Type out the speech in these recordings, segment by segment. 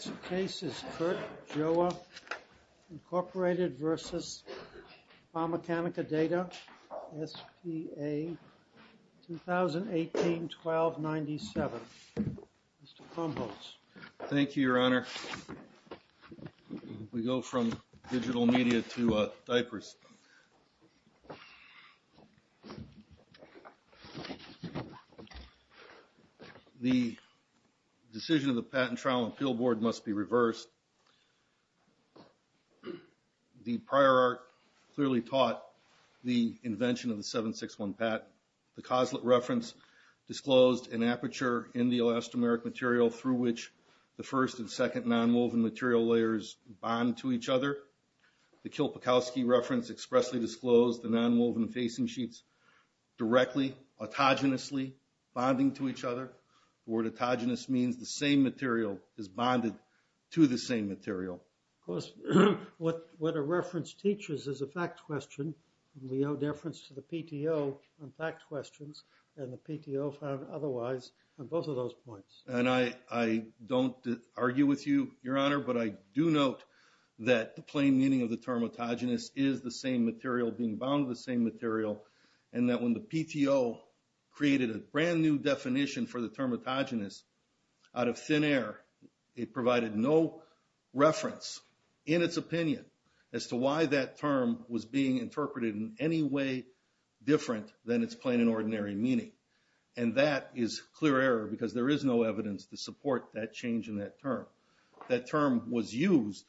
G. Joa, Inc. v. Fameccanica.Data S.P.A. 2018-12-19-25 commandments. Committee. Thank you, your honor. We go from digital media to diapers. The decision of the patent trial and billboard must be reversed. The prior art clearly taught the invention of the 761 patent. The coslet reference disclosed an aperture in the elastomeric material through which the first and second non-woven material layers bond to each other. The Kilpikowski reference expressly disclosed the non-woven facing sheets directly, autogenously, bonding to each other. The word autogenous means the same material is bonded to the same material. What a reference teaches is a fact question. We owe deference to the PTO on fact questions and the PTO found otherwise on both of those points. And I don't argue with you, your honor, but I do note that the plain meaning of the term autogenous is the same material being bound to the same material and that when the PTO created a brand new definition for the term autogenous out of thin air, it provided no reference in its opinion as to why that term was being interpreted in any way different than its plain and ordinary meaning. And that is clear error because there is no evidence to support that change in that term. That term was used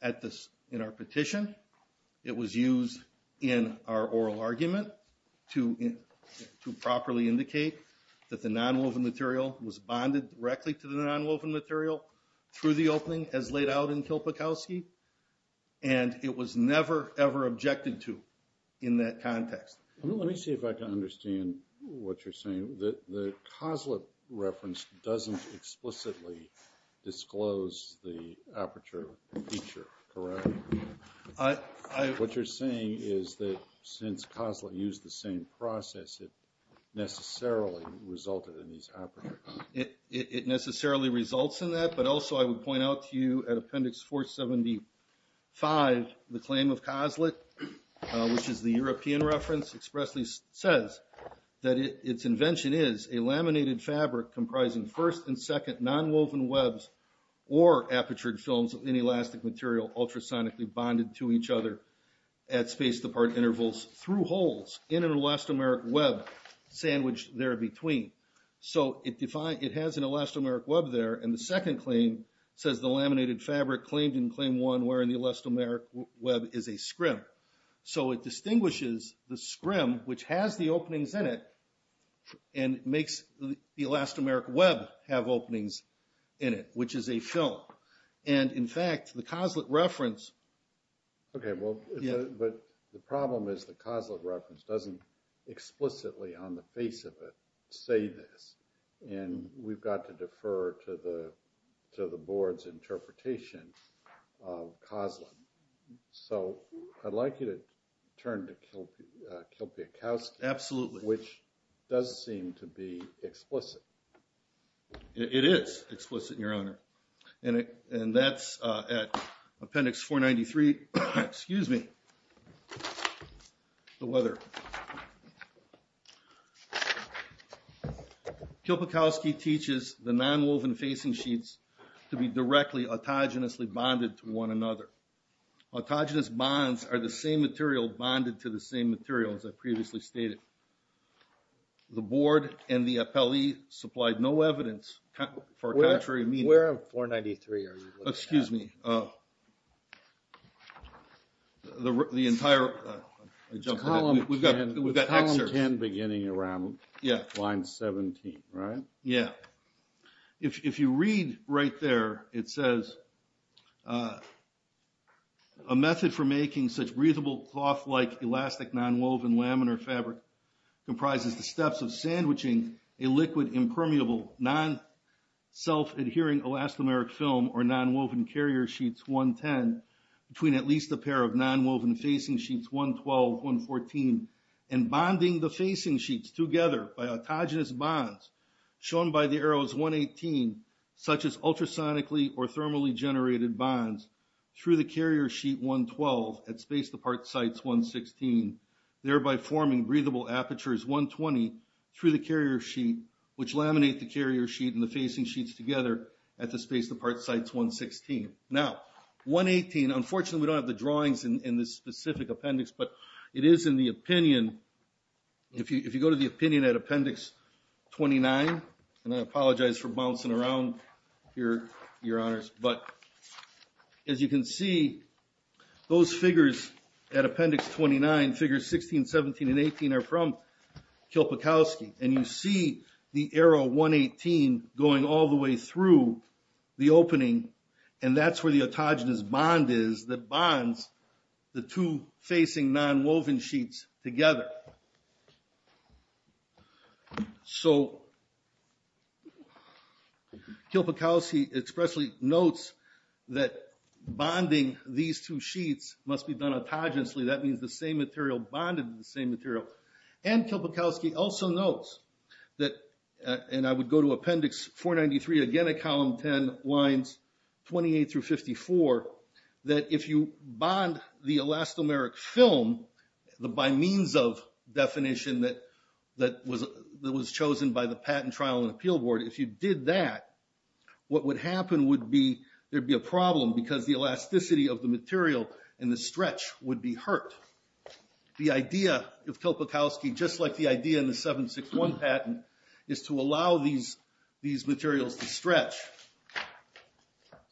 at this in our petition. It was used in our oral argument to to properly indicate that the non-woven material was bonded directly to the non-woven material through the opening as laid out in Kilpikowski, and it was never ever objected to in that context. Let me see if I can understand what you're saying. The COSLA reference doesn't explicitly disclose the aperture feature, correct? What you're saying is that since COSLA used the same process it necessarily resulted in these apertures. It necessarily results in that, but also I would point out to you at Appendix 475 the claim of COSLA, which is the European reference, expressly says that its invention is a laminated fabric comprising first and second non-woven webs or apertured films of inelastic material ultrasonically bonded to each other at space-to-part intervals through holes in an elastomeric web sandwiched there between. So it has an elastomeric web there, and the second claim says the laminated fabric claimed in Claim 1 wearing the elastomeric web is a scrim. So it distinguishes the scrim, which has the openings in it, and it makes the elastomeric web have openings in it, which is a film. And in fact the COSLA reference... Okay, well, but the problem is the COSLA reference doesn't explicitly on the face of it say this, and we've got to defer to the to the board's interpretation of COSLA. So I'd like you to turn to Kilpiakowski, which does seem to be explicit. It is explicit, Your Honor, and that's at Appendix 493, excuse me, the letter. Kilpiakowski teaches the non-woven facing sheets to be directly autogenously bonded to one another. Autogenous bonds are the same material bonded to the same material as I previously stated. The board and the appellee supplied no evidence for contrary meaning. Where on 493 are you looking at? Excuse me. Oh. The entire... We've got column 10 beginning around line 17, right? Yeah. If you read right there, it says, a method for making such breathable cloth-like elastic non-woven laminar fabric comprises the steps of sandwiching a liquid impermeable non- woven carrier sheets 110 between at least a pair of non-woven facing sheets 112, 114, and bonding the facing sheets together by autogenous bonds shown by the arrows 118, such as ultrasonically or thermally generated bonds, through the carrier sheet 112 at space-depart sites 116, thereby forming breathable apertures 120 through the carrier sheet, which laminate the carrier sheet and the facing sheets together at the space-depart sites 116. Now, 118, unfortunately, we don't have the drawings in this specific appendix, but it is in the opinion, if you go to the opinion at appendix 29, and I apologize for bouncing around here, your honors, but as you can see, those figures at appendix 29, figures 16, 17, and 18 are from Kilpikowski, and you see the arrow 118 going all the way through the opening, and that's where the autogenous bond is that bonds the two facing non-woven sheets together. So Kilpikowski expressly notes that Kilpikowski also notes that, and I would go to appendix 493 again at column 10, lines 28 through 54, that if you bond the elastomeric film, the by-means-of definition that was chosen by the patent trial and appeal board, if you did that, what would happen would be there'd be a problem because the elasticity of the material and the stretch would be hurt. The idea of Kilpikowski, just like the idea in the 761 patent, is to allow these these materials to stretch.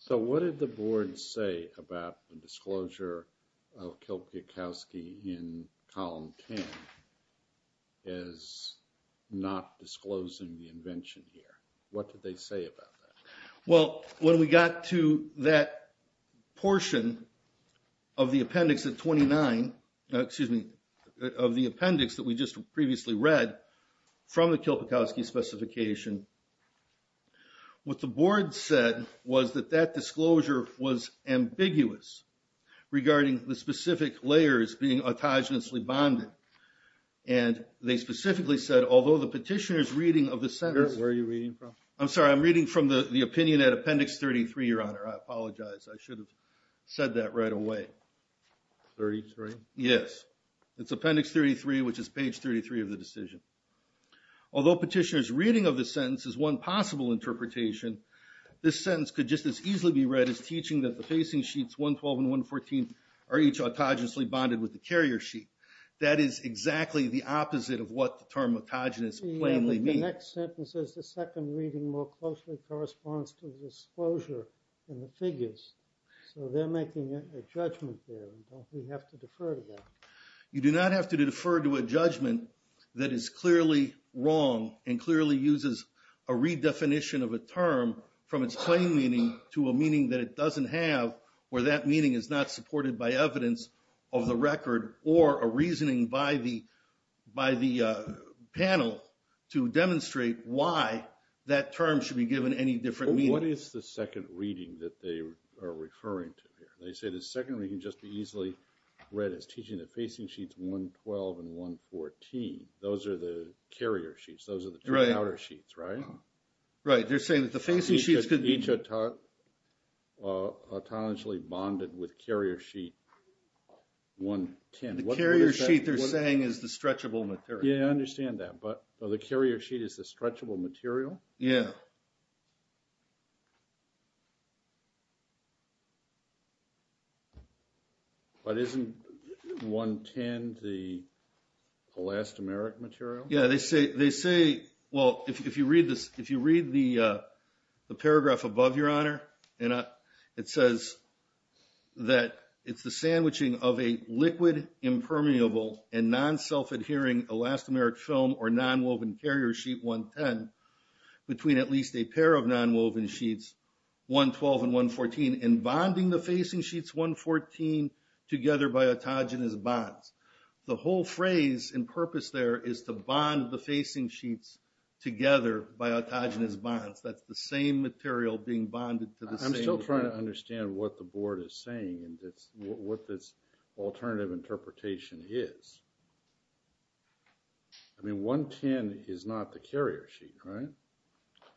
So what did the board say about the disclosure of Kilpikowski in column 10 as not disclosing the invention here? What did they say about that? Well, when we got to that portion of the appendix at 29, excuse me, of the appendix that we just previously read from the Kilpikowski specification, what the board said was that that disclosure was ambiguous regarding the specific layers being autogenously bonded, and they specifically said, although the petitioner's reading of the sentence... Where are you reading from? I'm sorry, I'm reading from the opinion at appendix 33, your honor. I apologize. I should have said that right away. 33? Yes, it's appendix 33, which is page 33 of the decision. Although petitioner's reading of the sentence is one possible interpretation, this sentence could just as easily be read as teaching that the facing sheets 112 and 114 are each autogenously bonded with the carrier sheet. That is exactly the opposite of what the term autogenous plainly means. The next sentence is the second reading more closely corresponds to the disclosure in the figures. So they're making a judgment there. Don't we have to defer to that? You do not have to defer to a judgment that is clearly wrong and clearly uses a redefinition of a term from its plain meaning to a meaning that it doesn't have, where that meaning is not supported by evidence of the record or a reasoning by the panel to demonstrate why that term should be given any different meaning. What is the second reading that they are referring to here? They say the second reading can just be easily read as teaching the facing sheets 112 and 114. Those are the carrier sheets. Those are the two outer sheets, right? Right. They're saying that the facing sheets could be... Each autogenously bonded with carrier sheet 110. The carrier sheet they're saying is the stretchable material. Yeah, I understand that, but the carrier sheet is the stretchable material? Yeah. But isn't 110 the elastomeric material? Yeah, they say, well, if you read the paragraph above, Your Honor, it says that it's the sandwiching of a liquid, impermeable, and non-self-adhering elastomeric film or non-woven carrier sheet 110 between at least a pair of non-woven sheets 112 and 114 and bonding the facing sheets 114 together by autogenous bonds. The whole phrase and purpose there is to bond the facing sheets together by autogenous bonds. That's the same material being bonded to the same... I'm still trying to understand what the board is saying and what this alternative interpretation is. I mean, 110 is not the carrier sheet, right?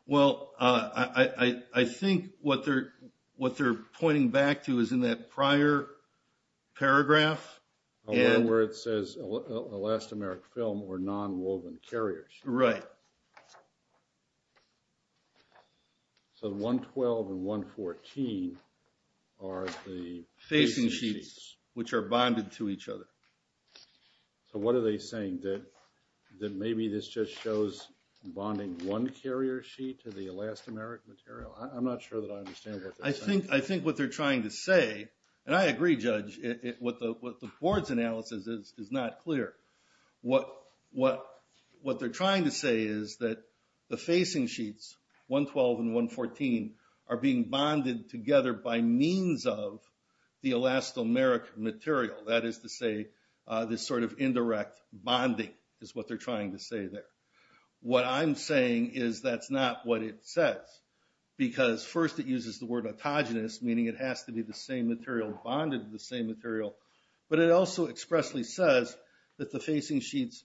Well, I think what they're pointing back to is in that prior paragraph... Where it says elastomeric film or non-woven carrier sheet. Right. So 112 and 114 are the... Which are bonded to each other. So what are they saying? That maybe this just shows bonding one carrier sheet to the elastomeric material? I'm not sure that I understand what they're saying. I think what they're trying to say... And I agree, Judge. What the board's analysis is is not clear. What they're trying to say is that the facing sheets, 112 and 114, are being bonded together by means of the elastomeric material. That is to say, this sort of indirect bonding is what they're trying to say there. What I'm saying is that's not what it says. Because first it uses the word autogenous, meaning it has to be the same material bonded to the same material. But it also expressly says that the facing sheets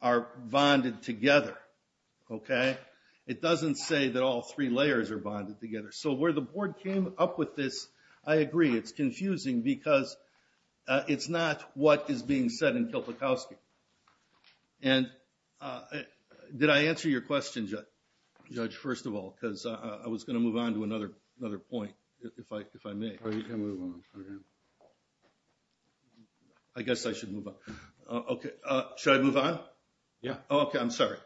are bonded together. It doesn't say that all three layers are bonded together. So where the board came up with this, I agree. It's confusing because it's not what is being said in Kilpikowski. Did I answer your question, Judge, first of all? Because I was going to move on to another point, if I may. You can move on. I guess I should move on. Should I move on? Yeah. Okay, I'm sorry.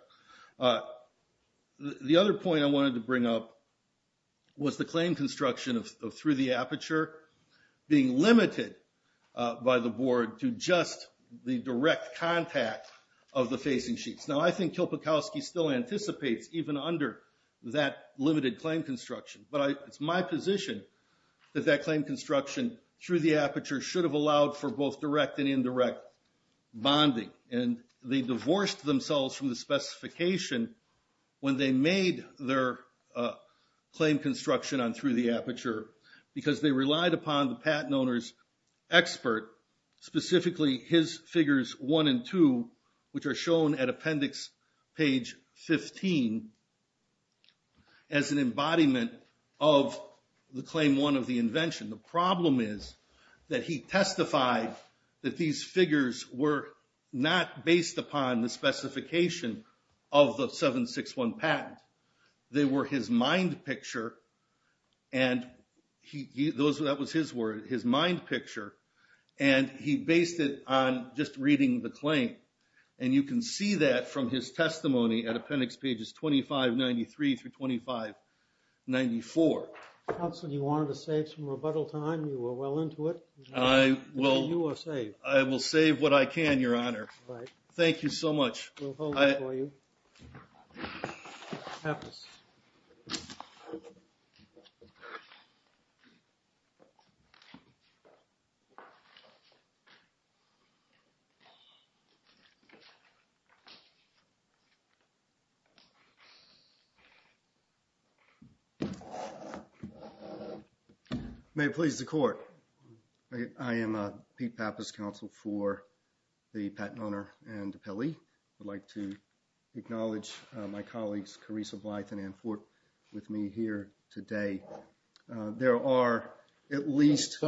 The other point I wanted to bring up was the claim construction of through the aperture being limited by the board to just the direct contact of the facing sheets. Now I think Kilpikowski still anticipates even under that limited claim construction. But it's my position that that claim construction through the aperture should have allowed for both direct and indirect bonding. And they divorced themselves from the specification when they made their claim construction on through the aperture because they relied upon the patent owner's expert, specifically his figures one and two, which are shown at appendix page 15 as an embodiment of the claim one of the invention. The problem is that he testified that these figures were not based upon the specification of the 761 patent. They were his mind picture. And that was his word, his mind picture. And he based it on just reading the claim. And you can see that from his testimony at appendix pages 2593 through 2594. Counsel, you wanted to save some rebuttal time. You were well into it. You are saved. I will save what I can, Your Honor. Thank you so much. We'll hold it for you. May it please the Court. I am Pete Pappas, counsel for the patent owner and DePelle. I'd like to acknowledge my colleagues, Carissa Blythe and Ann Fort, with me here today. There are at least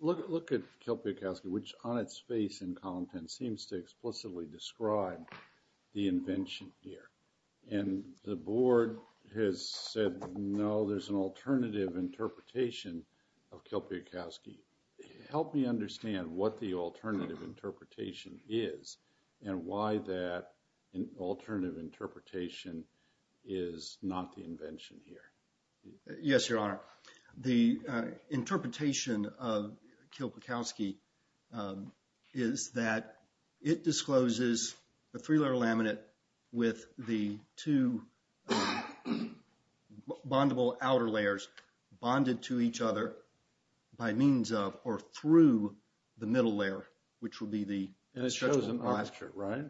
Look at Kilpiakowski, which on its face in column 10 seems to explicitly describe the invention here. And the board has said, no, there's an alternative interpretation of Kilpiakowski. Help me understand what the alternative interpretation is and why that alternative interpretation is not the invention here. Yes, Your Honor. The interpretation of Kilpiakowski is that it discloses the three-layer laminate with the two bondable outer layers bonded to each other by means of or through the middle layer, which would be the stretchable plaster. And it shows an aperture, right?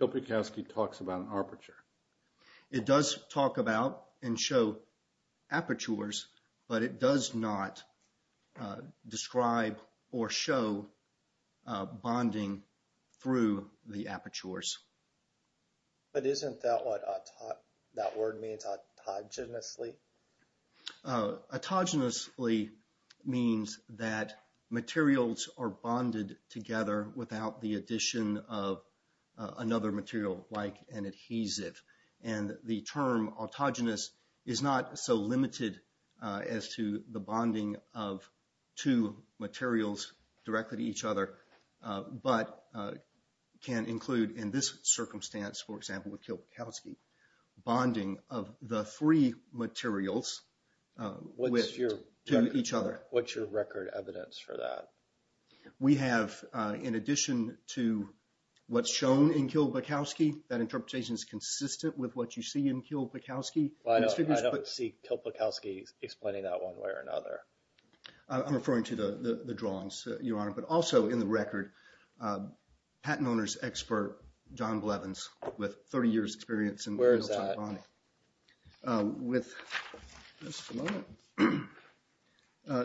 Kilpiakowski talks about an aperture. It does talk about and show apertures, but it does not describe or show bonding through the apertures. But isn't that what that word means autogenously? Autogenously means that materials are bonded together without the addition of another material like an adhesive. And the term autogenous is not so limited as to the bonding of two materials directly to each other, but can include in this circumstance, for example, with Kilpiakowski, bonding of the three materials to each other. What's your record evidence for that? We have, in addition to what's shown in Kilpiakowski, that interpretation is consistent with what you see in Kilpiakowski. Well, I don't see Kilpiakowski explaining that one way or another. I'm referring to the drawings, Your Honor, but also in the record, patent owner's expert, John Blevins, with 30 years' experience in material type bonding. Where is that? With...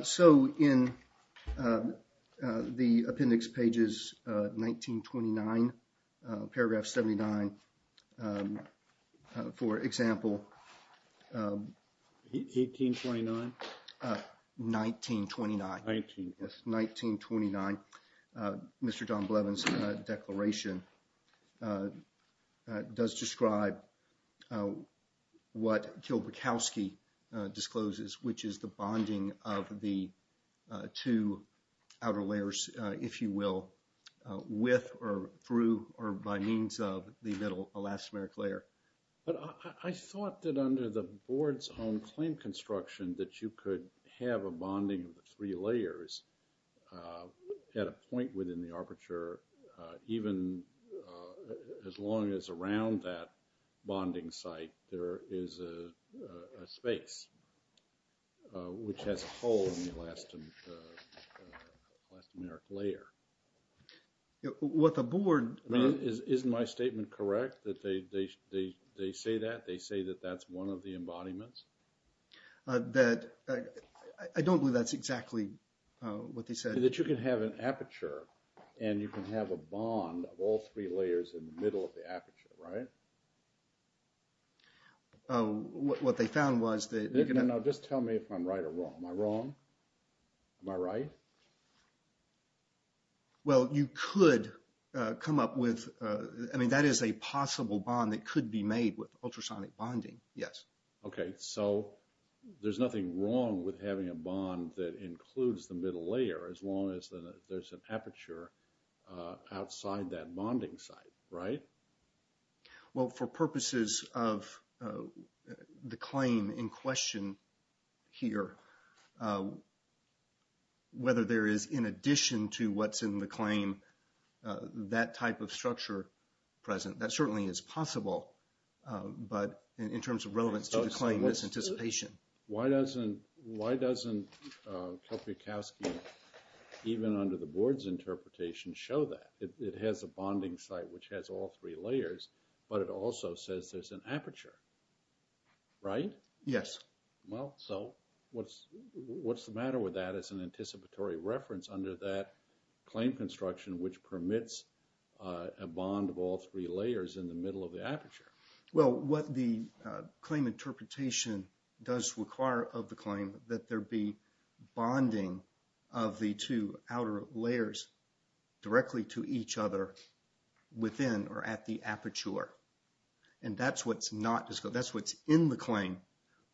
So in the appendix pages 1929, paragraph 79, for example... 1829? 1929. 1929. Mr. John Blevins' declaration does describe what Kilpiakowski discloses, which is the bonding of the two outer layers, if you will, with or through or by means of the middle elastomeric layer. But I thought that under the board's own claim construction that you could have a bonding of the three layers at a point within the arbiter, even as long as around that bonding site there is a space, which has a hole in the elastomeric layer. What the board... Isn't my statement correct, that they say that? They say that that's one of the embodiments? That... I don't believe that's exactly what they said. That you can have an aperture, and you can have a bond of all three layers in the middle of the aperture, right? What they found was that... No, just tell me if I'm right or wrong. Am I wrong? Am I right? Well, you could come up with... I mean, that is a possible bond that could be made with ultrasonic bonding, yes. Okay, so there's nothing wrong with having a bond that includes the middle layer as long as there's an aperture outside that bonding site, right? Well, for purposes of the claim in question here, whether there is, in addition to what's in the claim, that type of structure present, that certainly is possible. But in terms of relevance to the claim, it's anticipation. Why doesn't... Why doesn't Kopiakowski, even under the board's interpretation, show that? It has a bonding site which has all three layers, but it also says there's an aperture, right? Yes. Well, so what's the matter with that as an anticipatory reference under that claim construction, which permits a bond of all three layers in the middle of the aperture? Well, what the claim interpretation does require of the claim, that there be bonding of the two outer layers directly to each other within or at the aperture. And that's what's not disclosed. That's what's in the claim,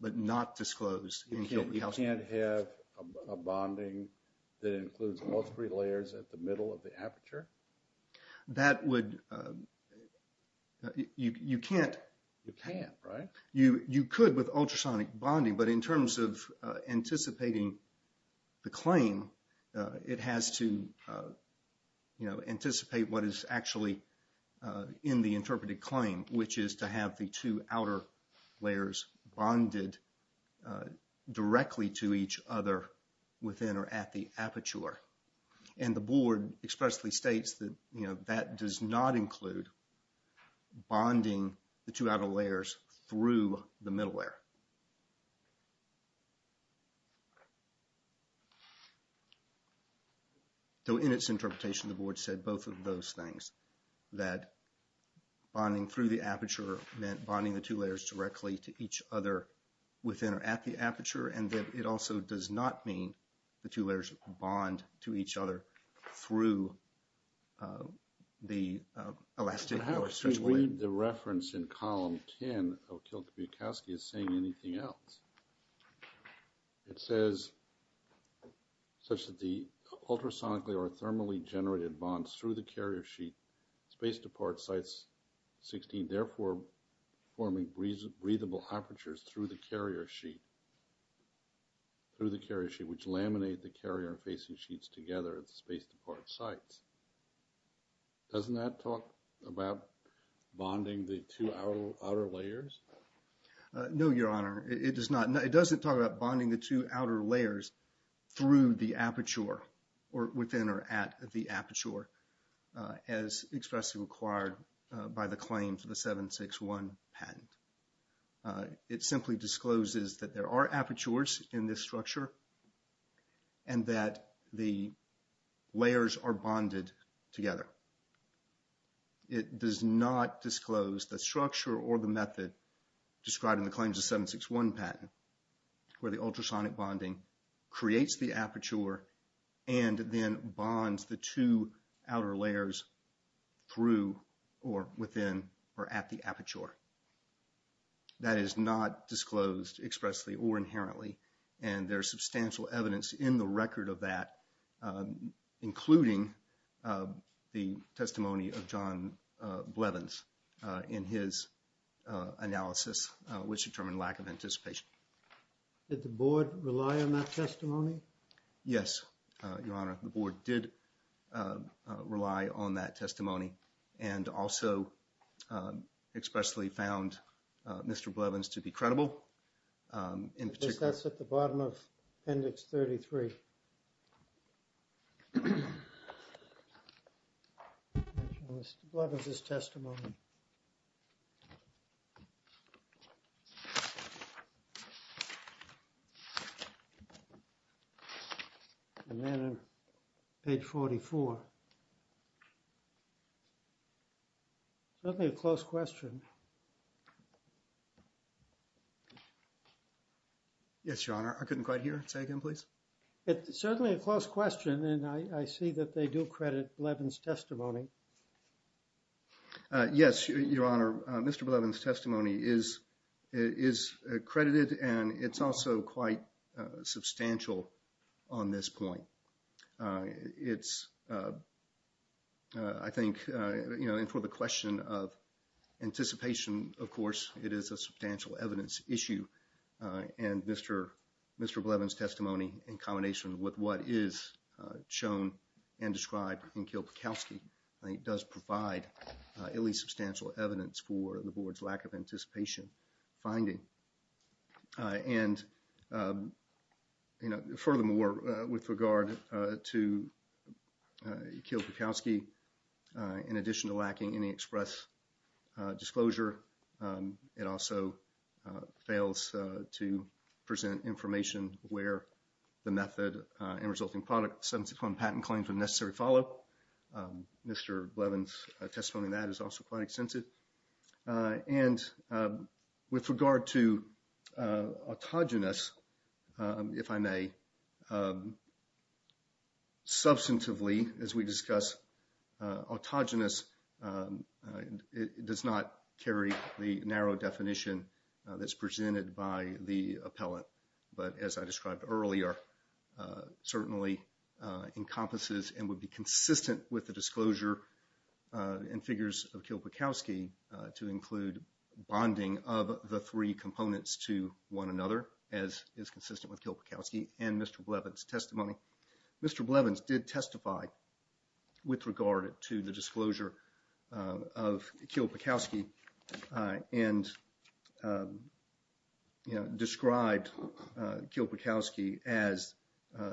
but not disclosed in Kopiakowski. You can't have a bonding that includes all three layers at the middle of the aperture? That would... You can't. You can't, right? You could with ultrasonic bonding, but in terms of anticipating the claim, it has to anticipate what is actually in the interpreted claim, which is to have the two outer layers bonded directly to each other within or at the aperture. And the board expressly states that, you know, that does not include bonding the two outer layers through the middle layer. So in its interpretation, the board said both of those things, that bonding through the aperture meant bonding the two layers directly to each other within or at the aperture, and that it also does not mean the two layers bond to each other through the elastic or stretchable layer. But how could you read the reference in column 10 of Kopiakowski as saying anything else? It says, such that the ultrasonically or thermally generated bonds through the carrier sheet, space departs sites 16, therefore forming breathable apertures through the carrier sheet. Through the carrier sheet, which laminate the carrier facing sheets together at the space depart sites. Doesn't that talk about bonding the two outer layers? No, Your Honor, it does not. It doesn't talk about bonding the two outer layers through the aperture or within or at the aperture, as expressly required by the claim for the 761 patent. It simply discloses that there are apertures in this structure and that the layers are bonded together. It does not disclose the structure or the method described in the claims of 761 patent, where the ultrasonic bonding creates the aperture and then bonds the two outer layers through or within or at the aperture. That is not disclosed expressly or inherently, and there's substantial evidence in the record of that, including the testimony of John Blevins in his analysis, which determined lack of anticipation. Did the board rely on that testimony? Yes, Your Honor, the board did rely on that testimony and also expressly found Mr. Blevins to be credible in particular. That's at the bottom of Appendix 33, Mr. Blevins' testimony. And then on page 44, certainly a close question. Yes, Your Honor, I couldn't quite hear. Say again, please. It's certainly a close question, and I see that they do credit Blevins' testimony. Yes, Your Honor, Mr. Blevins' testimony is credited, and it's also quite substantial on this point. It's, I think, you know, for the question of anticipation, of course, it is a substantial evidence issue, and Mr. Blevins' testimony in combination with what is shown and described in Kilpikowski does provide at least substantial evidence for the board's lack of anticipation finding. And, you know, furthermore, with regard to Kilpikowski, in addition to lacking any express disclosure, it also fails to present information where the method and resulting patent claims are necessary to follow. Mr. Blevins' testimony in that is also quite extensive. And with regard to autogenous, if I may, substantively as we discuss autogenous, it does not carry the narrow definition that's presented by the appellant. But as I described earlier, certainly encompasses and would be consistent with the disclosure and figures of Kilpikowski to include bonding of the three components to one another, as is consistent with Kilpikowski and Mr. Blevins' testimony. Mr. Blevins did testify with regard to the disclosure of Kilpikowski and described Kilpikowski as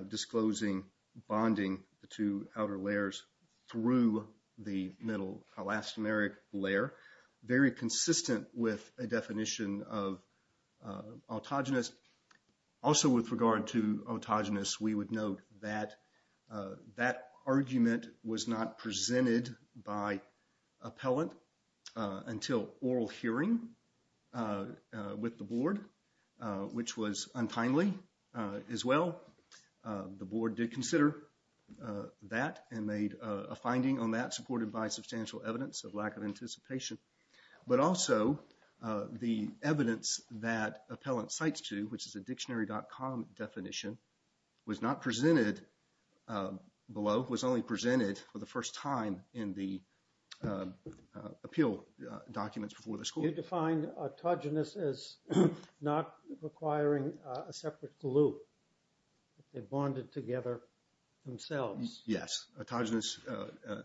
disclosing bonding the two outer layers through the middle elastomeric layer, very consistent with a definition of autogenous. Also with regard to autogenous, we would note that that argument was not presented by appellant until oral hearing with the board, which was untimely as well. The board did consider that and made a finding on that, supported by substantial evidence of lack of anticipation. But also the evidence that appellant cites to, which is a dictionary.com definition, was not presented below, was only presented for the first time in the appeal documents before the school. You defined autogenous as not requiring a separate glue. They bonded together themselves. Yes, autogenous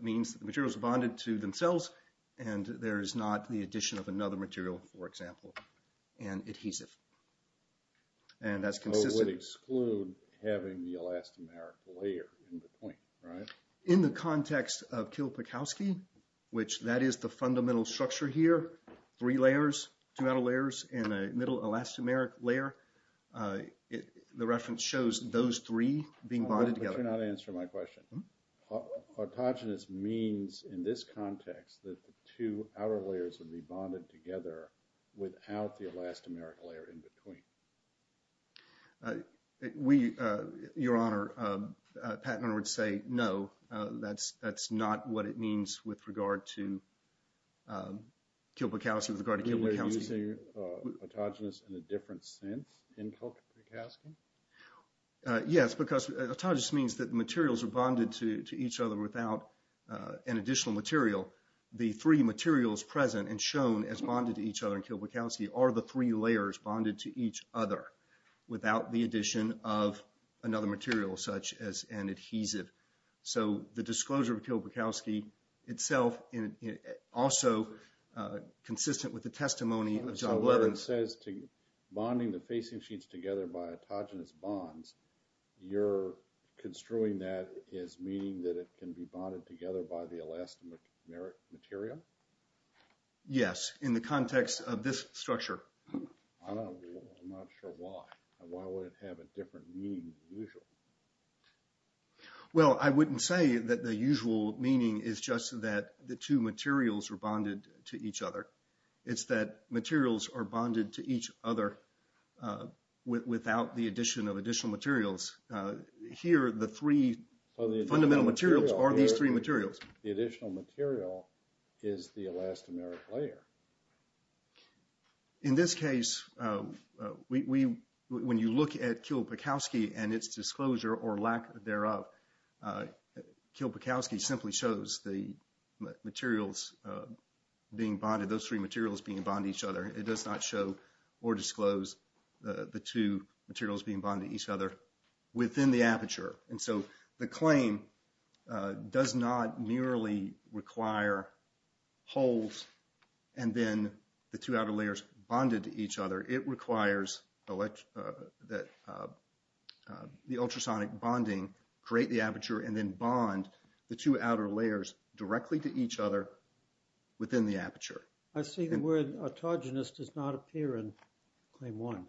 means the material is bonded to themselves and there is not the addition of another material, for example, and adhesive. So it would exclude having the elastomeric layer in between, right? In the context of Kilpikowski, which that is the fundamental structure here, three layers, two outer layers and a middle elastomeric layer, the reference shows those three being bonded together. But you're not answering my question. Autogenous means in this context that the two outer layers would be bonded together without the elastomeric layer in between. Your Honor, Pat and I would say no, that's not what it means with regard to Kilpikowski. You're using autogenous in a different sense in Kilpikowski? Yes, because autogenous means that materials are bonded to each other without an additional material. The three materials present and shown as bonded to each other in Kilpikowski are the three layers bonded to each other without the addition of another material such as an adhesive. So the disclosure of Kilpikowski itself is also consistent with the testimony of John Blevins. Bonding the facing sheets together by autogenous bonds, you're construing that as meaning that it can be bonded together by the elastomeric material? Yes, in the context of this structure. I'm not sure why. Why would it have a different meaning than usual? Well, I wouldn't say that the usual meaning is just that the two materials are bonded to each other. It's that materials are bonded to each other without the addition of additional materials. Here, the three fundamental materials are these three materials. The additional material is the elastomeric layer. In this case, when you look at Kilpikowski and its disclosure or lack thereof, Kilpikowski simply shows the materials being bonded, those three materials being bonded to each other. It does not show or disclose the two materials being bonded to each other within the aperture. And so the claim does not merely require holes and then the two outer layers bonded to each other. It requires that the ultrasonic bonding create the aperture and then bond the two outer layers directly to each other within the aperture. I see the word autogenous does not appear in Claim 1.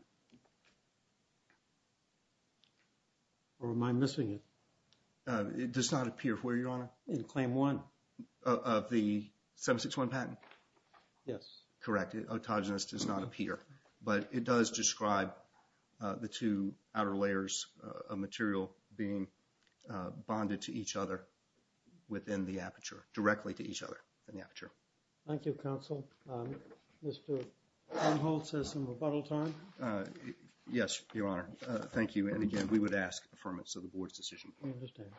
Or am I missing it? It does not appear where, Your Honor? In Claim 1. Of the 761 patent? Yes. Correct. Autogenous does not appear. But it does describe the two outer layers of material being bonded to each other within the aperture, directly to each other in the aperture. Thank you, Counsel. Mr. Van Holt says some rebuttal time. Yes, Your Honor. Thank you. And again, we would ask for the Board's decision. I understand.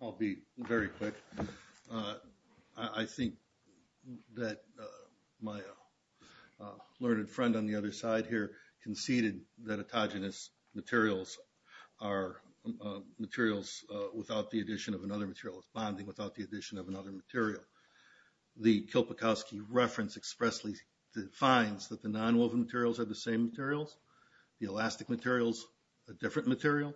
I'll be very quick. I think that my learned friend on the other side here conceded that autogenous materials are materials without the addition of another material. It's bonding without the addition of another material. The Kilpikowski reference expressly defines that the nonwoven materials are the same materials. The elastic material is a different material.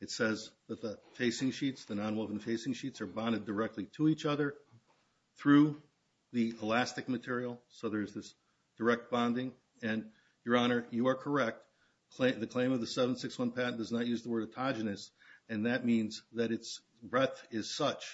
It says that the facing sheets, the nonwoven facing sheets, are bonded directly to each other through the elastic material. So there's this direct bonding. And, Your Honor, you are correct. The claim of the 761 patent does not use the word autogenous, and that means that its breadth is such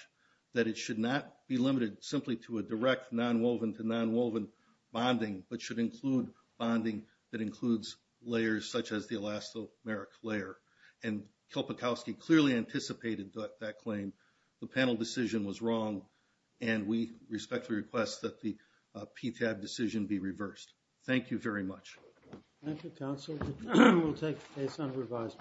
that it should not be limited simply to a direct nonwoven-to-nonwoven bonding, but should include bonding that includes layers such as the elastomeric layer. And Kilpikowski clearly anticipated that claim. The panel decision was wrong, and we respectfully request that the PTAB decision be reversed. Thank you very much. Thank you, Counsel. We'll take this on revisal.